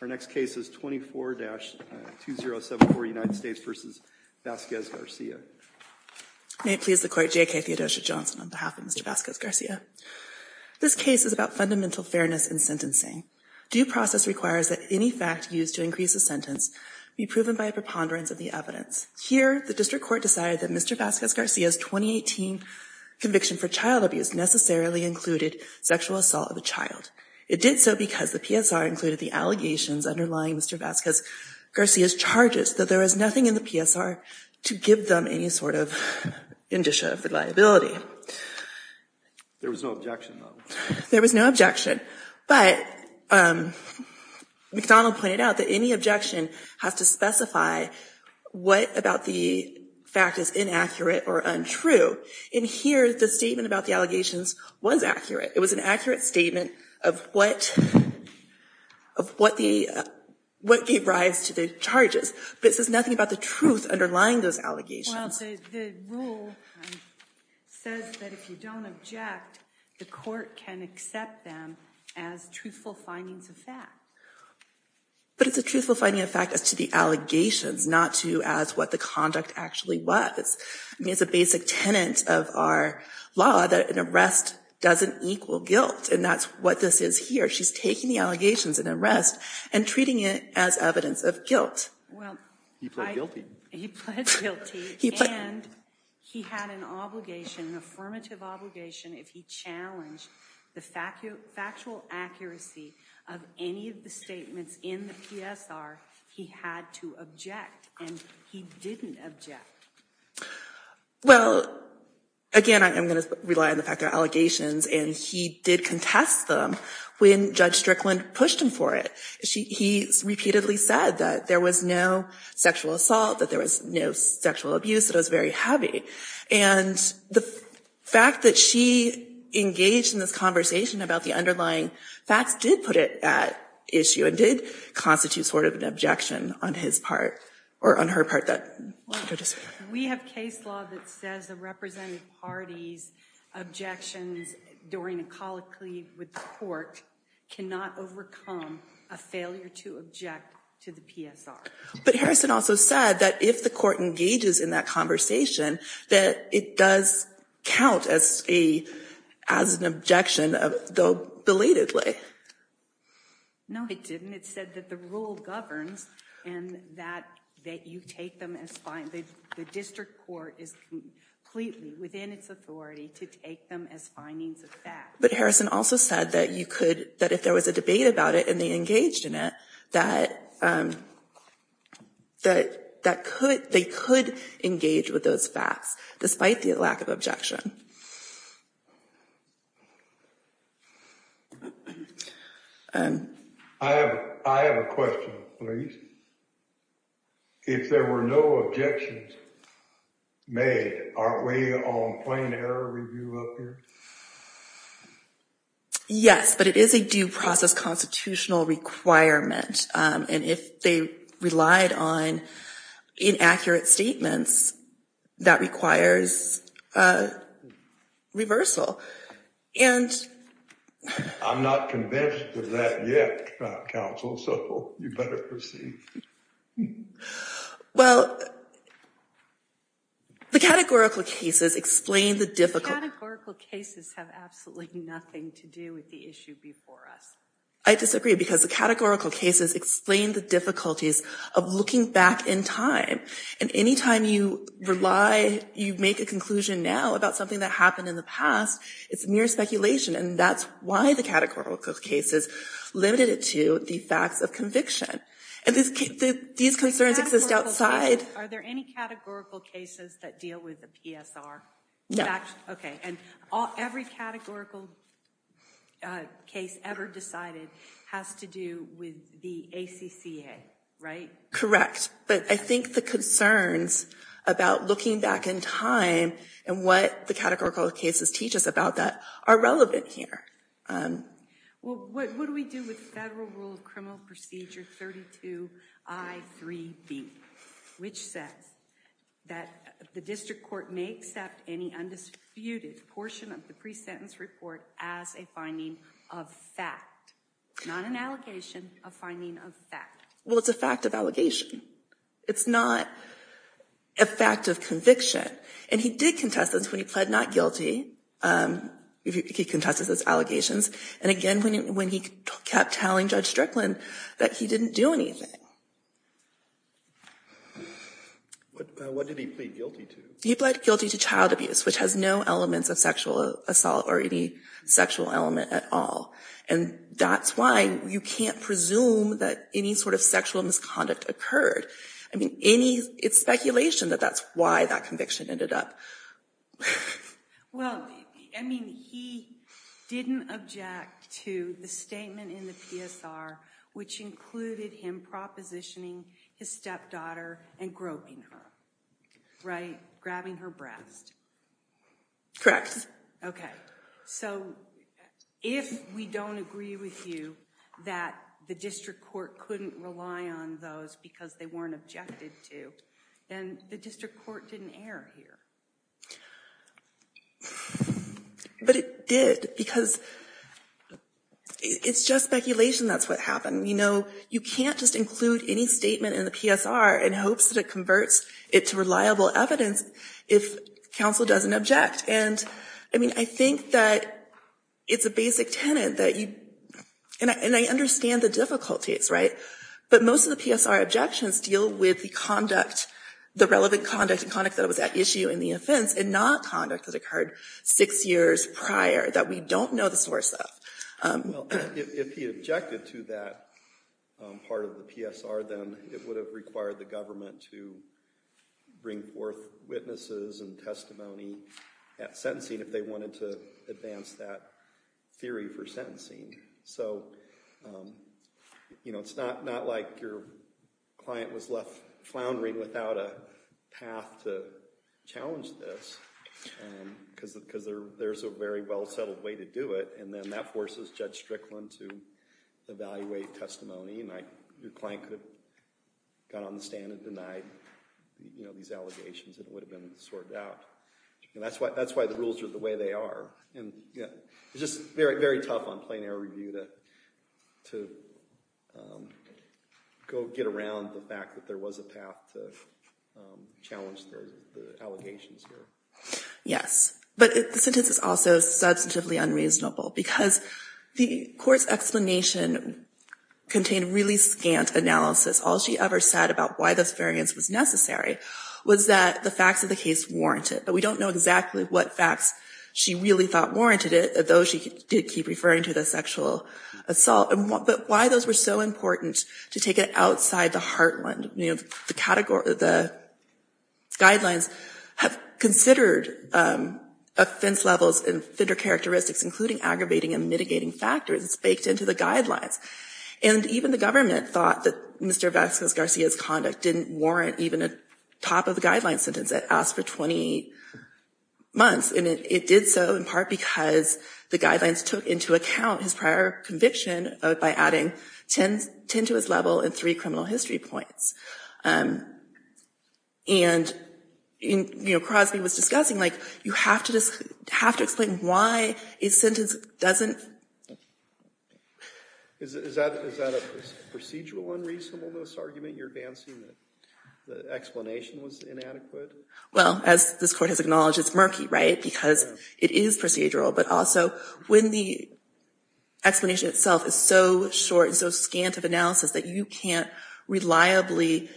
Our next case is 24-2074, United States v. Vazquez-Garcia. May it please the Court, J.K. Theodosia Johnson on behalf of Mr. Vazquez-Garcia. This case is about fundamental fairness in sentencing. Due process requires that any fact used to increase a sentence be proven by a preponderance of the evidence. Here, the District Court decided that Mr. Vazquez-Garcia's 2018 conviction for child abuse necessarily included sexual assault of a child. It did so because the PSR included the allegations underlying Mr. Vazquez-Garcia's charges, that there was nothing in the PSR to give them any sort of indicia of reliability. There was no objection, though. There was no objection, but McDonald pointed out that any objection has to specify what about the fact is inaccurate or untrue. In here, the statement about the allegations was accurate. It was an accurate statement of what gave rise to the charges, but it says nothing about the truth underlying those allegations. Well, the rule says that if you don't object, the Court can accept them as truthful findings of fact. But it's a truthful finding of fact as to the allegations, not to as what the conduct actually was. I mean, it's a basic tenet of our law that an arrest doesn't equal guilt, and that's what this is here. She's taking the allegations of an arrest and treating it as evidence of guilt. He pled guilty. He pled guilty, and he had an obligation, an affirmative obligation, if he challenged the factual accuracy of any of the statements in the PSR, he had to object, and he didn't object. Well, again, I'm going to rely on the fact they're allegations, and he did contest them when Judge Strickland pushed him for it. He repeatedly said that there was no sexual assault, that there was no sexual abuse, that it was very heavy. And the fact that she engaged in this conversation about the underlying facts did put it at issue and did constitute sort of an objection on his part, or on her part. We have case law that says the representative party's objections during a colloquy with the Court cannot overcome a failure to object to the PSR. But Harrison also said that if the Court engages in that conversation, that it does count as an objection, though belatedly. No, it didn't. It said that the rule governs and that you take them as findings. The district court is completely within its authority to take them as findings of facts. But Harrison also said that if there was a debate about it and they engaged in it, that they could engage with those facts, despite the lack of objection. I have a question, please. If there were no objections made, aren't we on plain error review up here? Yes, but it is a due process constitutional requirement. And if they relied on inaccurate statements, that requires reversal. I'm not convinced of that yet, counsel, so you better proceed. Well, the categorical cases explain the difficulty. The categorical cases have absolutely nothing to do with the issue before us. I disagree, because the categorical cases explain the difficulties of looking back in time. And any time you rely, you make a conclusion now about something that happened in the past, it's mere speculation. And that's why the categorical cases limited it to the facts of conviction. And these concerns exist outside. Are there any categorical cases that deal with the PSR? No. Every categorical case ever decided has to do with the ACCA, right? Correct. But I think the concerns about looking back in time and what the categorical cases teach us about that are relevant here. Well, what do we do with Federal Rule of Criminal Procedure 32-I-3-B, which says that the district court may accept any undisputed portion of the pre-sentence report as a finding of fact, not an allegation, a finding of fact? Well, it's a fact of allegation. It's not a fact of conviction. And he did contest this when he pled not guilty. He contested those allegations. And again, when he kept telling Judge Strickland that he didn't do anything. What did he plead guilty to? He pled guilty to child abuse, which has no elements of sexual assault or any sexual element at all. And that's why you can't presume that any sort of sexual misconduct occurred. I mean, it's speculation that that's why that conviction ended up. Well, I mean, he didn't object to the statement in the PSR which included him propositioning his stepdaughter and groping her, right? Grabbing her breast. Correct. Okay. So if we don't agree with you that the district court couldn't rely on those because they weren't objected to, then the district court didn't err here. But it did, because it's just speculation that's what happened. You know, you can't just include any statement in the PSR in hopes that it converts it to reliable evidence if counsel doesn't object. And, I mean, I think that it's a basic tenet that you – and I understand the difficulties, right? But most of the PSR objections deal with the conduct, the relevant conduct and conduct that was at issue in the offense and not conduct that occurred six years prior that we don't know the source of. Well, if he objected to that part of the PSR, then it would have required the government to bring forth witnesses and testimony at sentencing if they wanted to advance that theory for sentencing. So, you know, it's not like your client was left floundering without a path to challenge this, because there's a very well-settled way to do it. And then that forces Judge Strickland to evaluate testimony, and your client could have got on the stand and denied these allegations and it would have been sorted out. And that's why the rules are the way they are. It's just very tough on plain error review to go get around the fact that there was a path to challenge the allegations here. Yes, but the sentence is also substantively unreasonable because the court's explanation contained really scant analysis. All she ever said about why this variance was necessary was that the facts of the case warrant it. But we don't know exactly what facts she really thought warranted it, though she did keep referring to the sexual assault. But why those were so important to take it outside the heartland? You know, the guidelines have considered offense levels and offender characteristics, including aggravating and mitigating factors. It's baked into the guidelines. And even the government thought that Mr. Vasquez-Garcia's conduct didn't warrant even a top-of-the-guideline sentence. It asked for 20 months, and it did so in part because the guidelines took into account his prior conviction by adding 10 to his level and three criminal history points. And, you know, Crosby was discussing, like, you have to explain why a sentence doesn't... Is that a procedural unreasonableness argument? You're advancing that the explanation was inadequate? Well, as this court has acknowledged, it's murky, right, because it is procedural. But also, when the explanation itself is so short and so scant of analysis that you can't reliably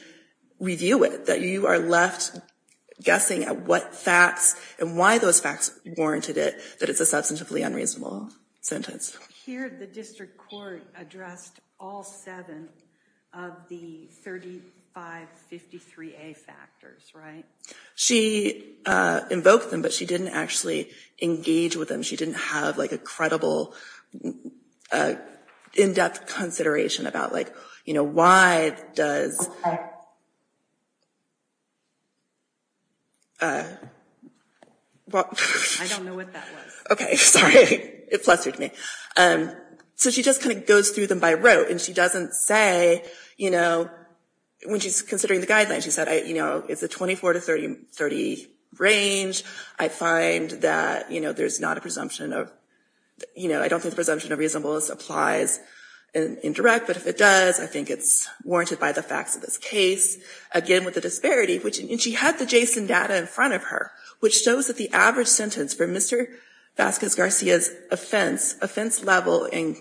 review it, that you are left guessing at what facts and why those facts warranted it, that it's a substantively unreasonable sentence. Here, the district court addressed all seven of the 3553A factors, right? She invoked them, but she didn't actually engage with them. She didn't have, like, a credible, in-depth consideration about, like, you know, why does... I don't know what that was. Okay, sorry. It flustered me. So she just kind of goes through them by rote, and she doesn't say, you know, when she's considering the guidelines, she said, you know, it's a 24 to 30 range. I find that, you know, there's not a presumption of... You know, I don't think the presumption of reasonableness applies in direct, but if it does, I think it's warranted by the facts of this case. Again, with the disparity, which... And she had the JSON data in front of her, which shows that the average sentence for Mr. Vasquez-Garcia's offense level in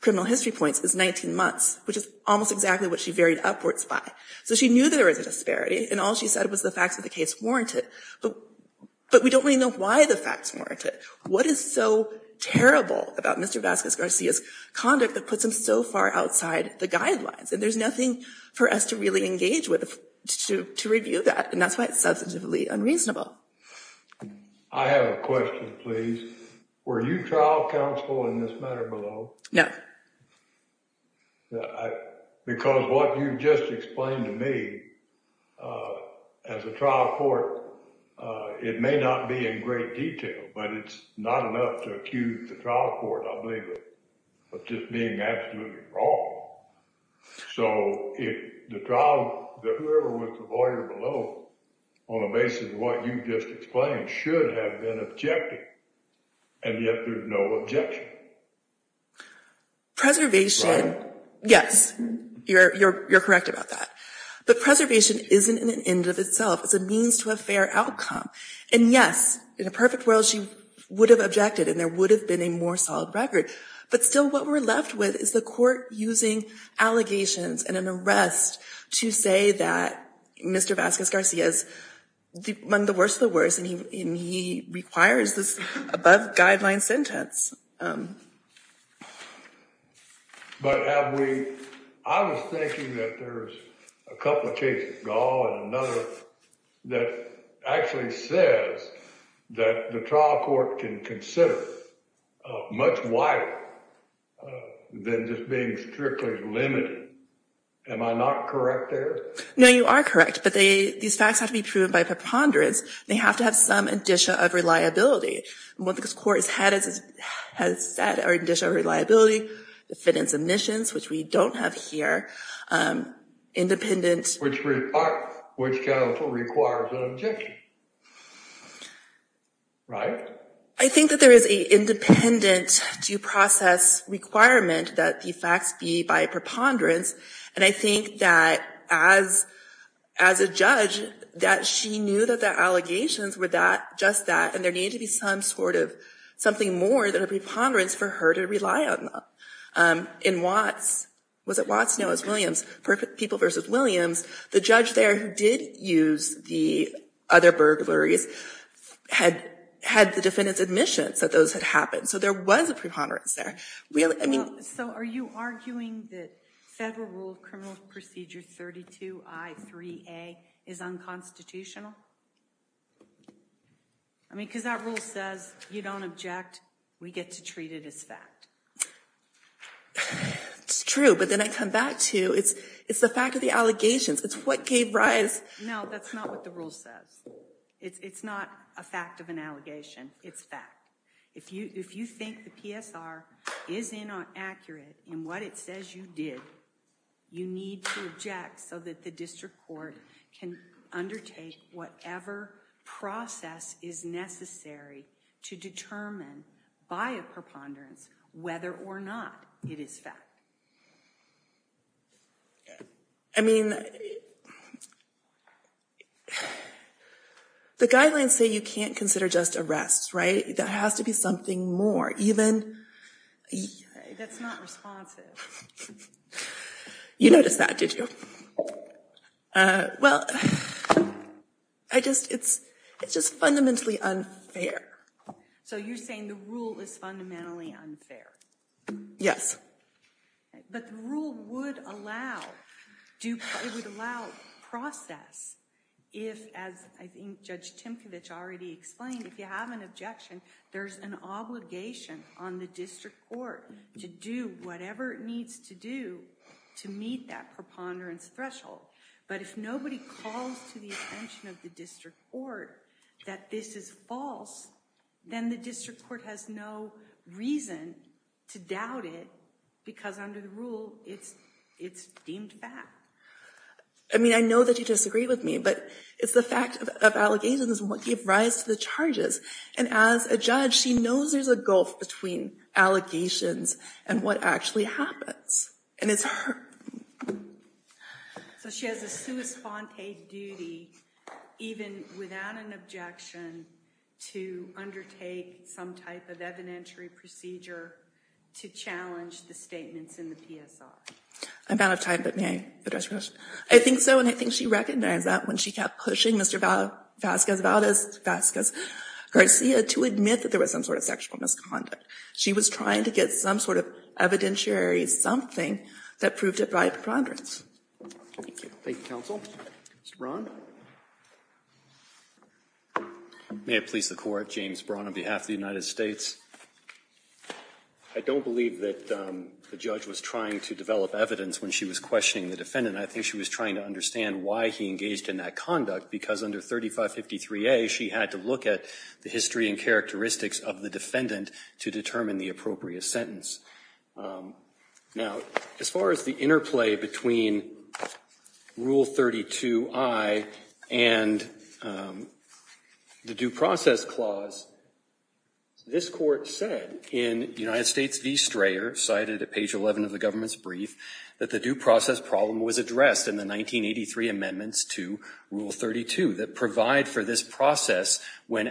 criminal history points is 19 months, which is almost exactly what she varied upwards by. So she knew there was a disparity, and all she said was the facts of the case warranted. But we don't really know why the facts warrant it. What is so terrible about Mr. Vasquez-Garcia's conduct that puts him so far outside the guidelines? And there's nothing for us to really engage with to review that, and that's why it's substantively unreasonable. I have a question, please. Were you trial counsel in this matter below? No. Because what you just explained to me, as a trial court, it may not be in great detail, but it's not enough to accuse the trial court, I believe, of just being absolutely wrong. So the trial, whoever was the lawyer below, on the basis of what you just explained, should have been objected. And yet there's no objection. Preservation, yes, you're correct about that. But preservation isn't an end of itself. It's a means to a fair outcome. And yes, in a perfect world, she would have objected, and there would have been a more solid record. But still, what we're left with is the court using allegations and an arrest to say that Mr. Vasquez-Garcia has done the worst of the worst, and he requires this above-guideline sentence. But have we, I was thinking that there's a couple of cases, Gall and another, that actually says that the trial court can consider much wider than just being strictly limited. Am I not correct there? No, you are correct. But these facts have to be proven by preponderance. They have to have some addition of reliability. And what this court has said are addition of reliability, the fit and submissions, which we don't have here, independent Which counsel requires an objection. Right? I think that there is a independent due process requirement that the facts be by preponderance. And I think that as a judge, that she knew that the allegations were that, just that, and there needed to be some sort of, something more than a preponderance for her to rely on them. In Watts, was it Watts? No, it was Williams. Perfect People v. Williams, the judge there who did use the other burglaries had the defendant's admission that those had happened. So there was a preponderance there. So are you arguing that Federal Rule of Criminal Procedure 32I3A is unconstitutional? I mean, because that rule says you don't object, we get to treat it as fact. It's true, but then I come back to, it's the fact of the allegations. It's what gave rise. No, that's not what the rule says. It's not a fact of an allegation. It's fact. If you think the PSR is inaccurate in what it says you did, you need to object so that the district court can undertake whatever process is necessary to determine by a preponderance whether or not it is fact. I mean, the guidelines say you can't consider just arrests, right? There has to be something more. That's not responsive. You noticed that, did you? Well, it's just fundamentally unfair. So you're saying the rule is fundamentally unfair? Yes. But the rule would allow, it would allow process if, as I think Judge Timkovich already explained, if you have an objection, there's an obligation on the district court to do whatever it needs to do to meet that preponderance threshold. But if nobody calls to the attention of the district court that this is false, then the district court has no reason to doubt it because under the rule it's deemed fact. I mean, I know that you disagree with me, but it's the fact of allegations is what gave rise to the charges. And as a judge, she knows there's a gulf between allegations and what actually happens. And it's her. So she has a sua sponte duty, even without an objection, to undertake some type of evidentiary procedure to challenge the statements in the PSI. I'm out of time, but may I address your question? I think so, and I think she recognized that when she kept pushing Mr. Vasquez Garcia to admit that there was some sort of sexual misconduct. She was trying to get some sort of evidentiary something that proved to be preponderance. Thank you. Thank you, counsel. Mr. Braun. May it please the Court. James Braun on behalf of the United States. I don't believe that the judge was trying to develop evidence when she was questioning the defendant. And I think she was trying to understand why he engaged in that conduct. Because under 3553A, she had to look at the history and characteristics of the defendant to determine the appropriate sentence. Now, as far as the interplay between Rule 32I and the Due Process Clause, this Court said in United States v. Strayer, cited at page 11 of the government's brief, that the due process problem was addressed in the 1983 amendments to Rule 32 that provide for this process when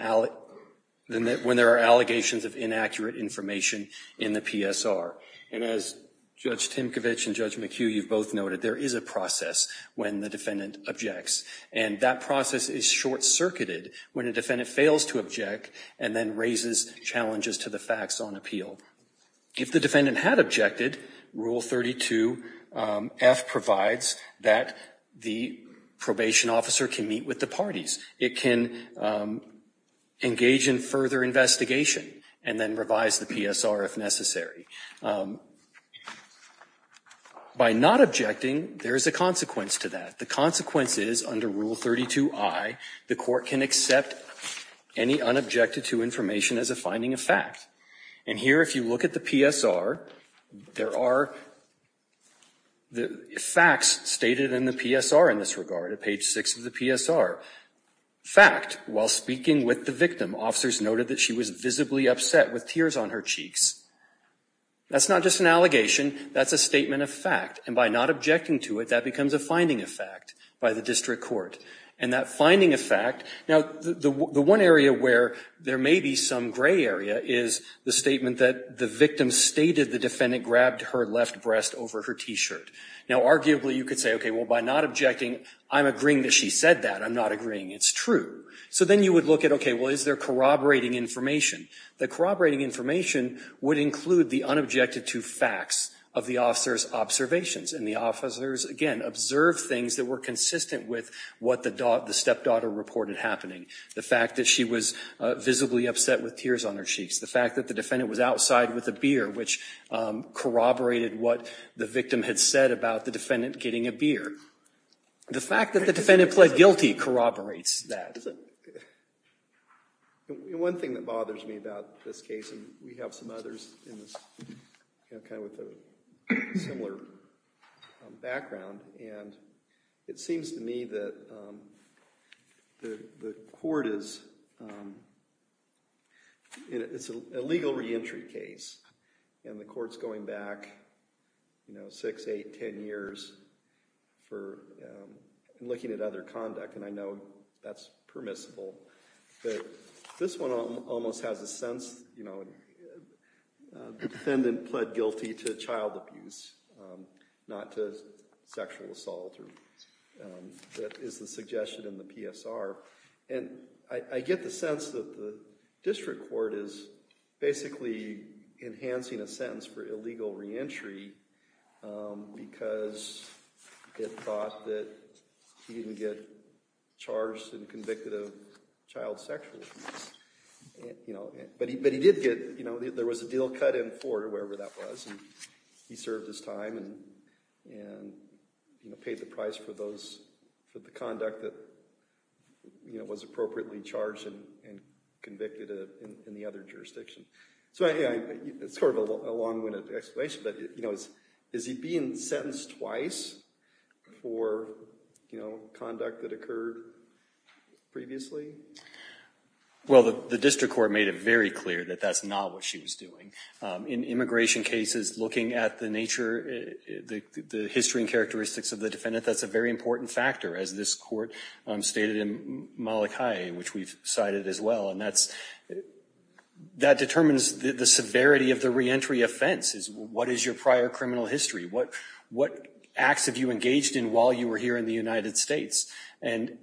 there are allegations of inaccurate information in the PSR. And as Judge Timkovich and Judge McHugh, you've both noted, there is a process when the defendant objects. And that process is short-circuited when a defendant fails to object and then raises challenges to the facts on appeal. If the defendant had objected, Rule 32F provides that the probation officer can meet with the parties. It can engage in further investigation and then revise the PSR if necessary. By not objecting, there is a consequence to that. The consequence is, under Rule 32I, the Court can accept any unobjected-to information as a finding of fact. And here, if you look at the PSR, there are facts stated in the PSR in this regard, at page 6 of the PSR. Fact, while speaking with the victim, officers noted that she was visibly upset with tears on her cheeks. That's not just an allegation. That's a statement of fact. And by not objecting to it, that becomes a finding of fact by the district court. Now, the one area where there may be some gray area is the statement that the victim stated the defendant grabbed her left breast over her T-shirt. Now, arguably, you could say, okay, well, by not objecting, I'm agreeing that she said that. I'm not agreeing. It's true. So then you would look at, okay, well, is there corroborating information? The corroborating information would include the unobjected-to facts of the officer's observations. And the officers, again, observed things that were consistent with what the stepdaughter reported happening. The fact that she was visibly upset with tears on her cheeks. The fact that the defendant was outside with a beer, which corroborated what the victim had said about the defendant getting a beer. The fact that the defendant pled guilty corroborates that. One thing that bothers me about this case, and we have some others with a similar background, and it seems to me that the court is, it's a legal reentry case. And the court's going back, you know, 6, 8, 10 years for looking at other conduct. And I know that's permissible. But this one almost has a sense, you know, the defendant pled guilty to child abuse, not to sexual assault. That is the suggestion in the PSR. And I get the sense that the district court is basically enhancing a sentence for illegal reentry because it thought that he didn't get charged and convicted of child sexual abuse. You know, but he did get, you know, there was a deal cut in court or wherever that was. And he served his time and paid the price for those, for the conduct that, you know, was appropriately charged and convicted in the other jurisdiction. So, yeah, it's sort of a long-winded explanation. But, you know, is he being sentenced twice for, you know, conduct that occurred previously? Well, the district court made it very clear that that's not what she was doing. In immigration cases, looking at the nature, the history and characteristics of the defendant, that's a very important factor, as this court stated in Malachi, which we've cited as well. And that determines the severity of the reentry offense is what is your prior criminal history? What acts have you engaged in while you were here in the United States? And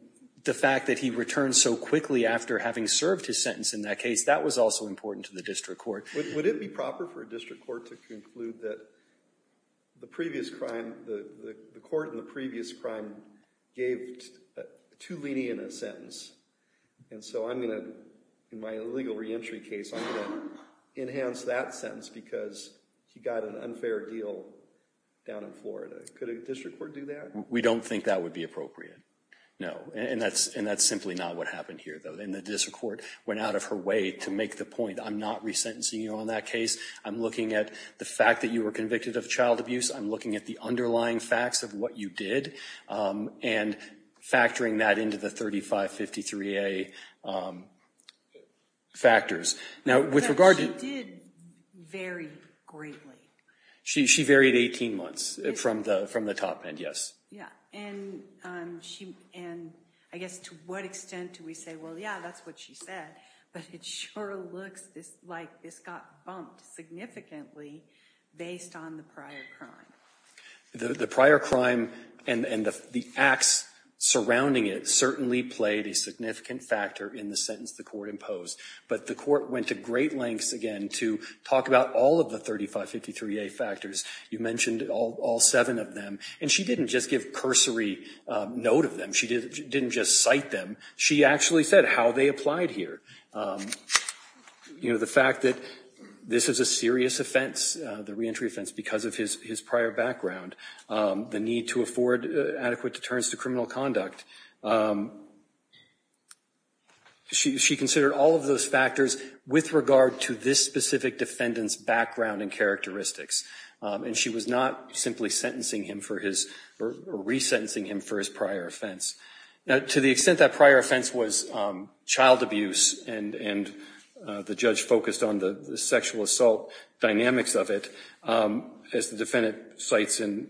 the fact that he returned so quickly after having served his sentence in that case, that was also important to the district court. Would it be proper for a district court to conclude that the previous crime, the court in the previous crime gave too lenient a sentence? And so I'm going to, in my illegal reentry case, I'm going to enhance that sentence because he got an unfair deal down in Florida. Could a district court do that? We don't think that would be appropriate, no. And that's simply not what happened here, though. And the district court went out of her way to make the point I'm not resentencing you on that case. I'm looking at the fact that you were convicted of child abuse. I'm looking at the underlying facts of what you did and factoring that into the 3553A factors. She did vary greatly. She varied 18 months from the top end, yes. Yeah, and I guess to what extent do we say, well, yeah, that's what she said, but it sure looks like this got bumped significantly based on the prior crime. The prior crime and the acts surrounding it certainly played a significant factor in the sentence the court imposed, but the court went to great lengths, again, to talk about all of the 3553A factors. You mentioned all seven of them, and she didn't just give cursory note of them. She didn't just cite them. She actually said how they applied here. The fact that this is a serious offense, the reentry offense, because of his prior background, the need to afford adequate deterrence to criminal conduct, she considered all of those factors with regard to this specific defendant's background and characteristics, and she was not simply sentencing him for his or resentencing him for his prior offense. Now, to the extent that prior offense was child abuse and the judge focused on the sexual assault dynamics of it, as the defendant cites in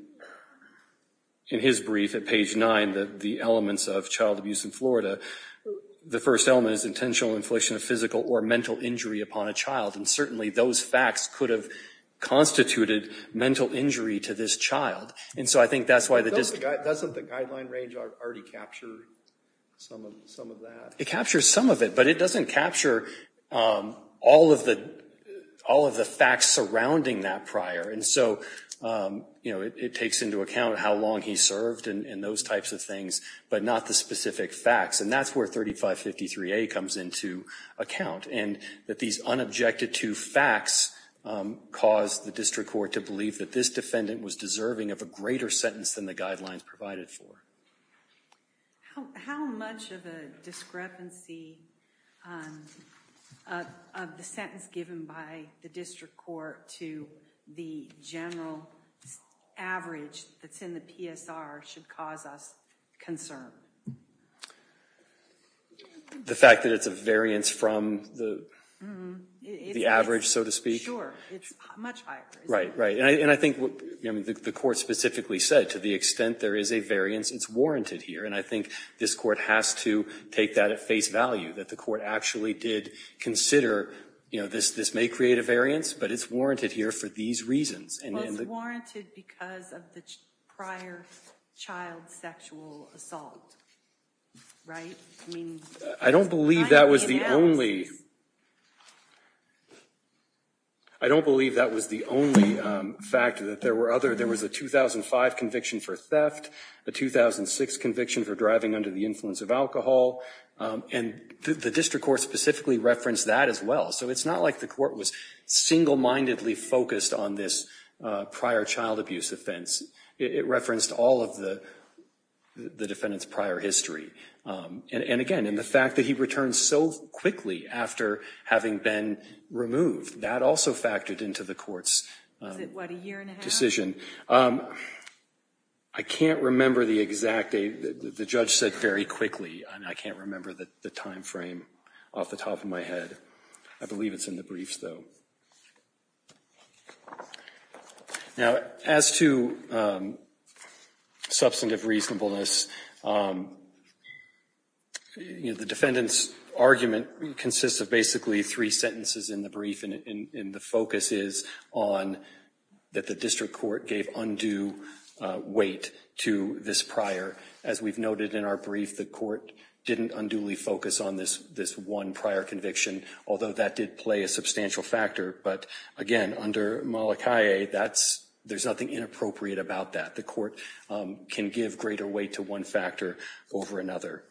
his brief at page 9, the elements of child abuse in Florida, the first element is intentional infliction of physical or mental injury upon a child, and certainly those facts could have constituted mental injury to this child, and so I think that's why the district- Doesn't the guideline range already capture some of that? It captures some of it, but it doesn't capture all of the facts surrounding that prior, and so it takes into account how long he served and those types of things, but not the specific facts, and that's where 3553A comes into account, and that these unobjected-to facts cause the district court to believe that this defendant was deserving of a greater sentence than the guidelines provided for. How much of a discrepancy of the sentence given by the district court to the general average that's in the PSR should cause us concern? The fact that it's a variance from the average, so to speak? Sure. It's much higher. Right, right, and I think the court specifically said to the extent there is a variance, it's warranted here, and I think this court has to take that at face value, that the court actually did consider, you know, this may create a variance, but it's warranted here for these reasons. It was warranted because of the prior child sexual assault, right? I don't believe that was the only, I don't believe that was the only fact that there were other, there was a 2005 conviction for theft, a 2006 conviction for driving under the influence of alcohol, and the district court specifically referenced that as well, so it's not like the court was single-mindedly focused on this prior child abuse offense. It referenced all of the defendant's prior history, and again, in the fact that he returned so quickly after having been removed, that also factored into the court's decision. I can't remember the exact, the judge said very quickly, and I can't remember the timeframe off the top of my head. I believe it's in the briefs, though. Now, as to substantive reasonableness, you know, the defendant's argument consists of basically three sentences in the brief, and the focus is on that the district court gave undue weight to this prior. As we've noted in our brief, the court didn't unduly focus on this one prior conviction, although that did play a substantial factor, but again, under Molokai, there's nothing inappropriate about that. The court can give greater weight to one factor over another,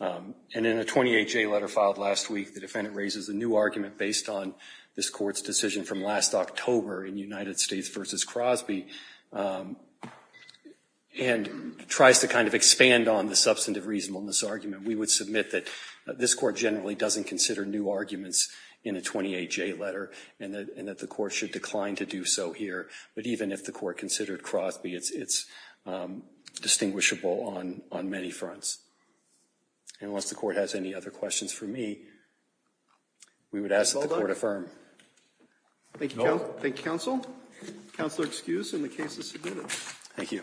and in a 28-J letter filed last week, the defendant raises a new argument based on this court's decision from last October in United States v. Crosby, and tries to kind of expand on the substantive reasonableness argument. We would submit that this court generally doesn't consider new arguments in a 28-J letter, and that the court should decline to do so here, but even if the court considered Crosby, it's distinguishable on many fronts. Unless the court has any other questions for me, we would ask that the court affirm. Thank you, counsel. Counselor excused, and the case is submitted. Thank you.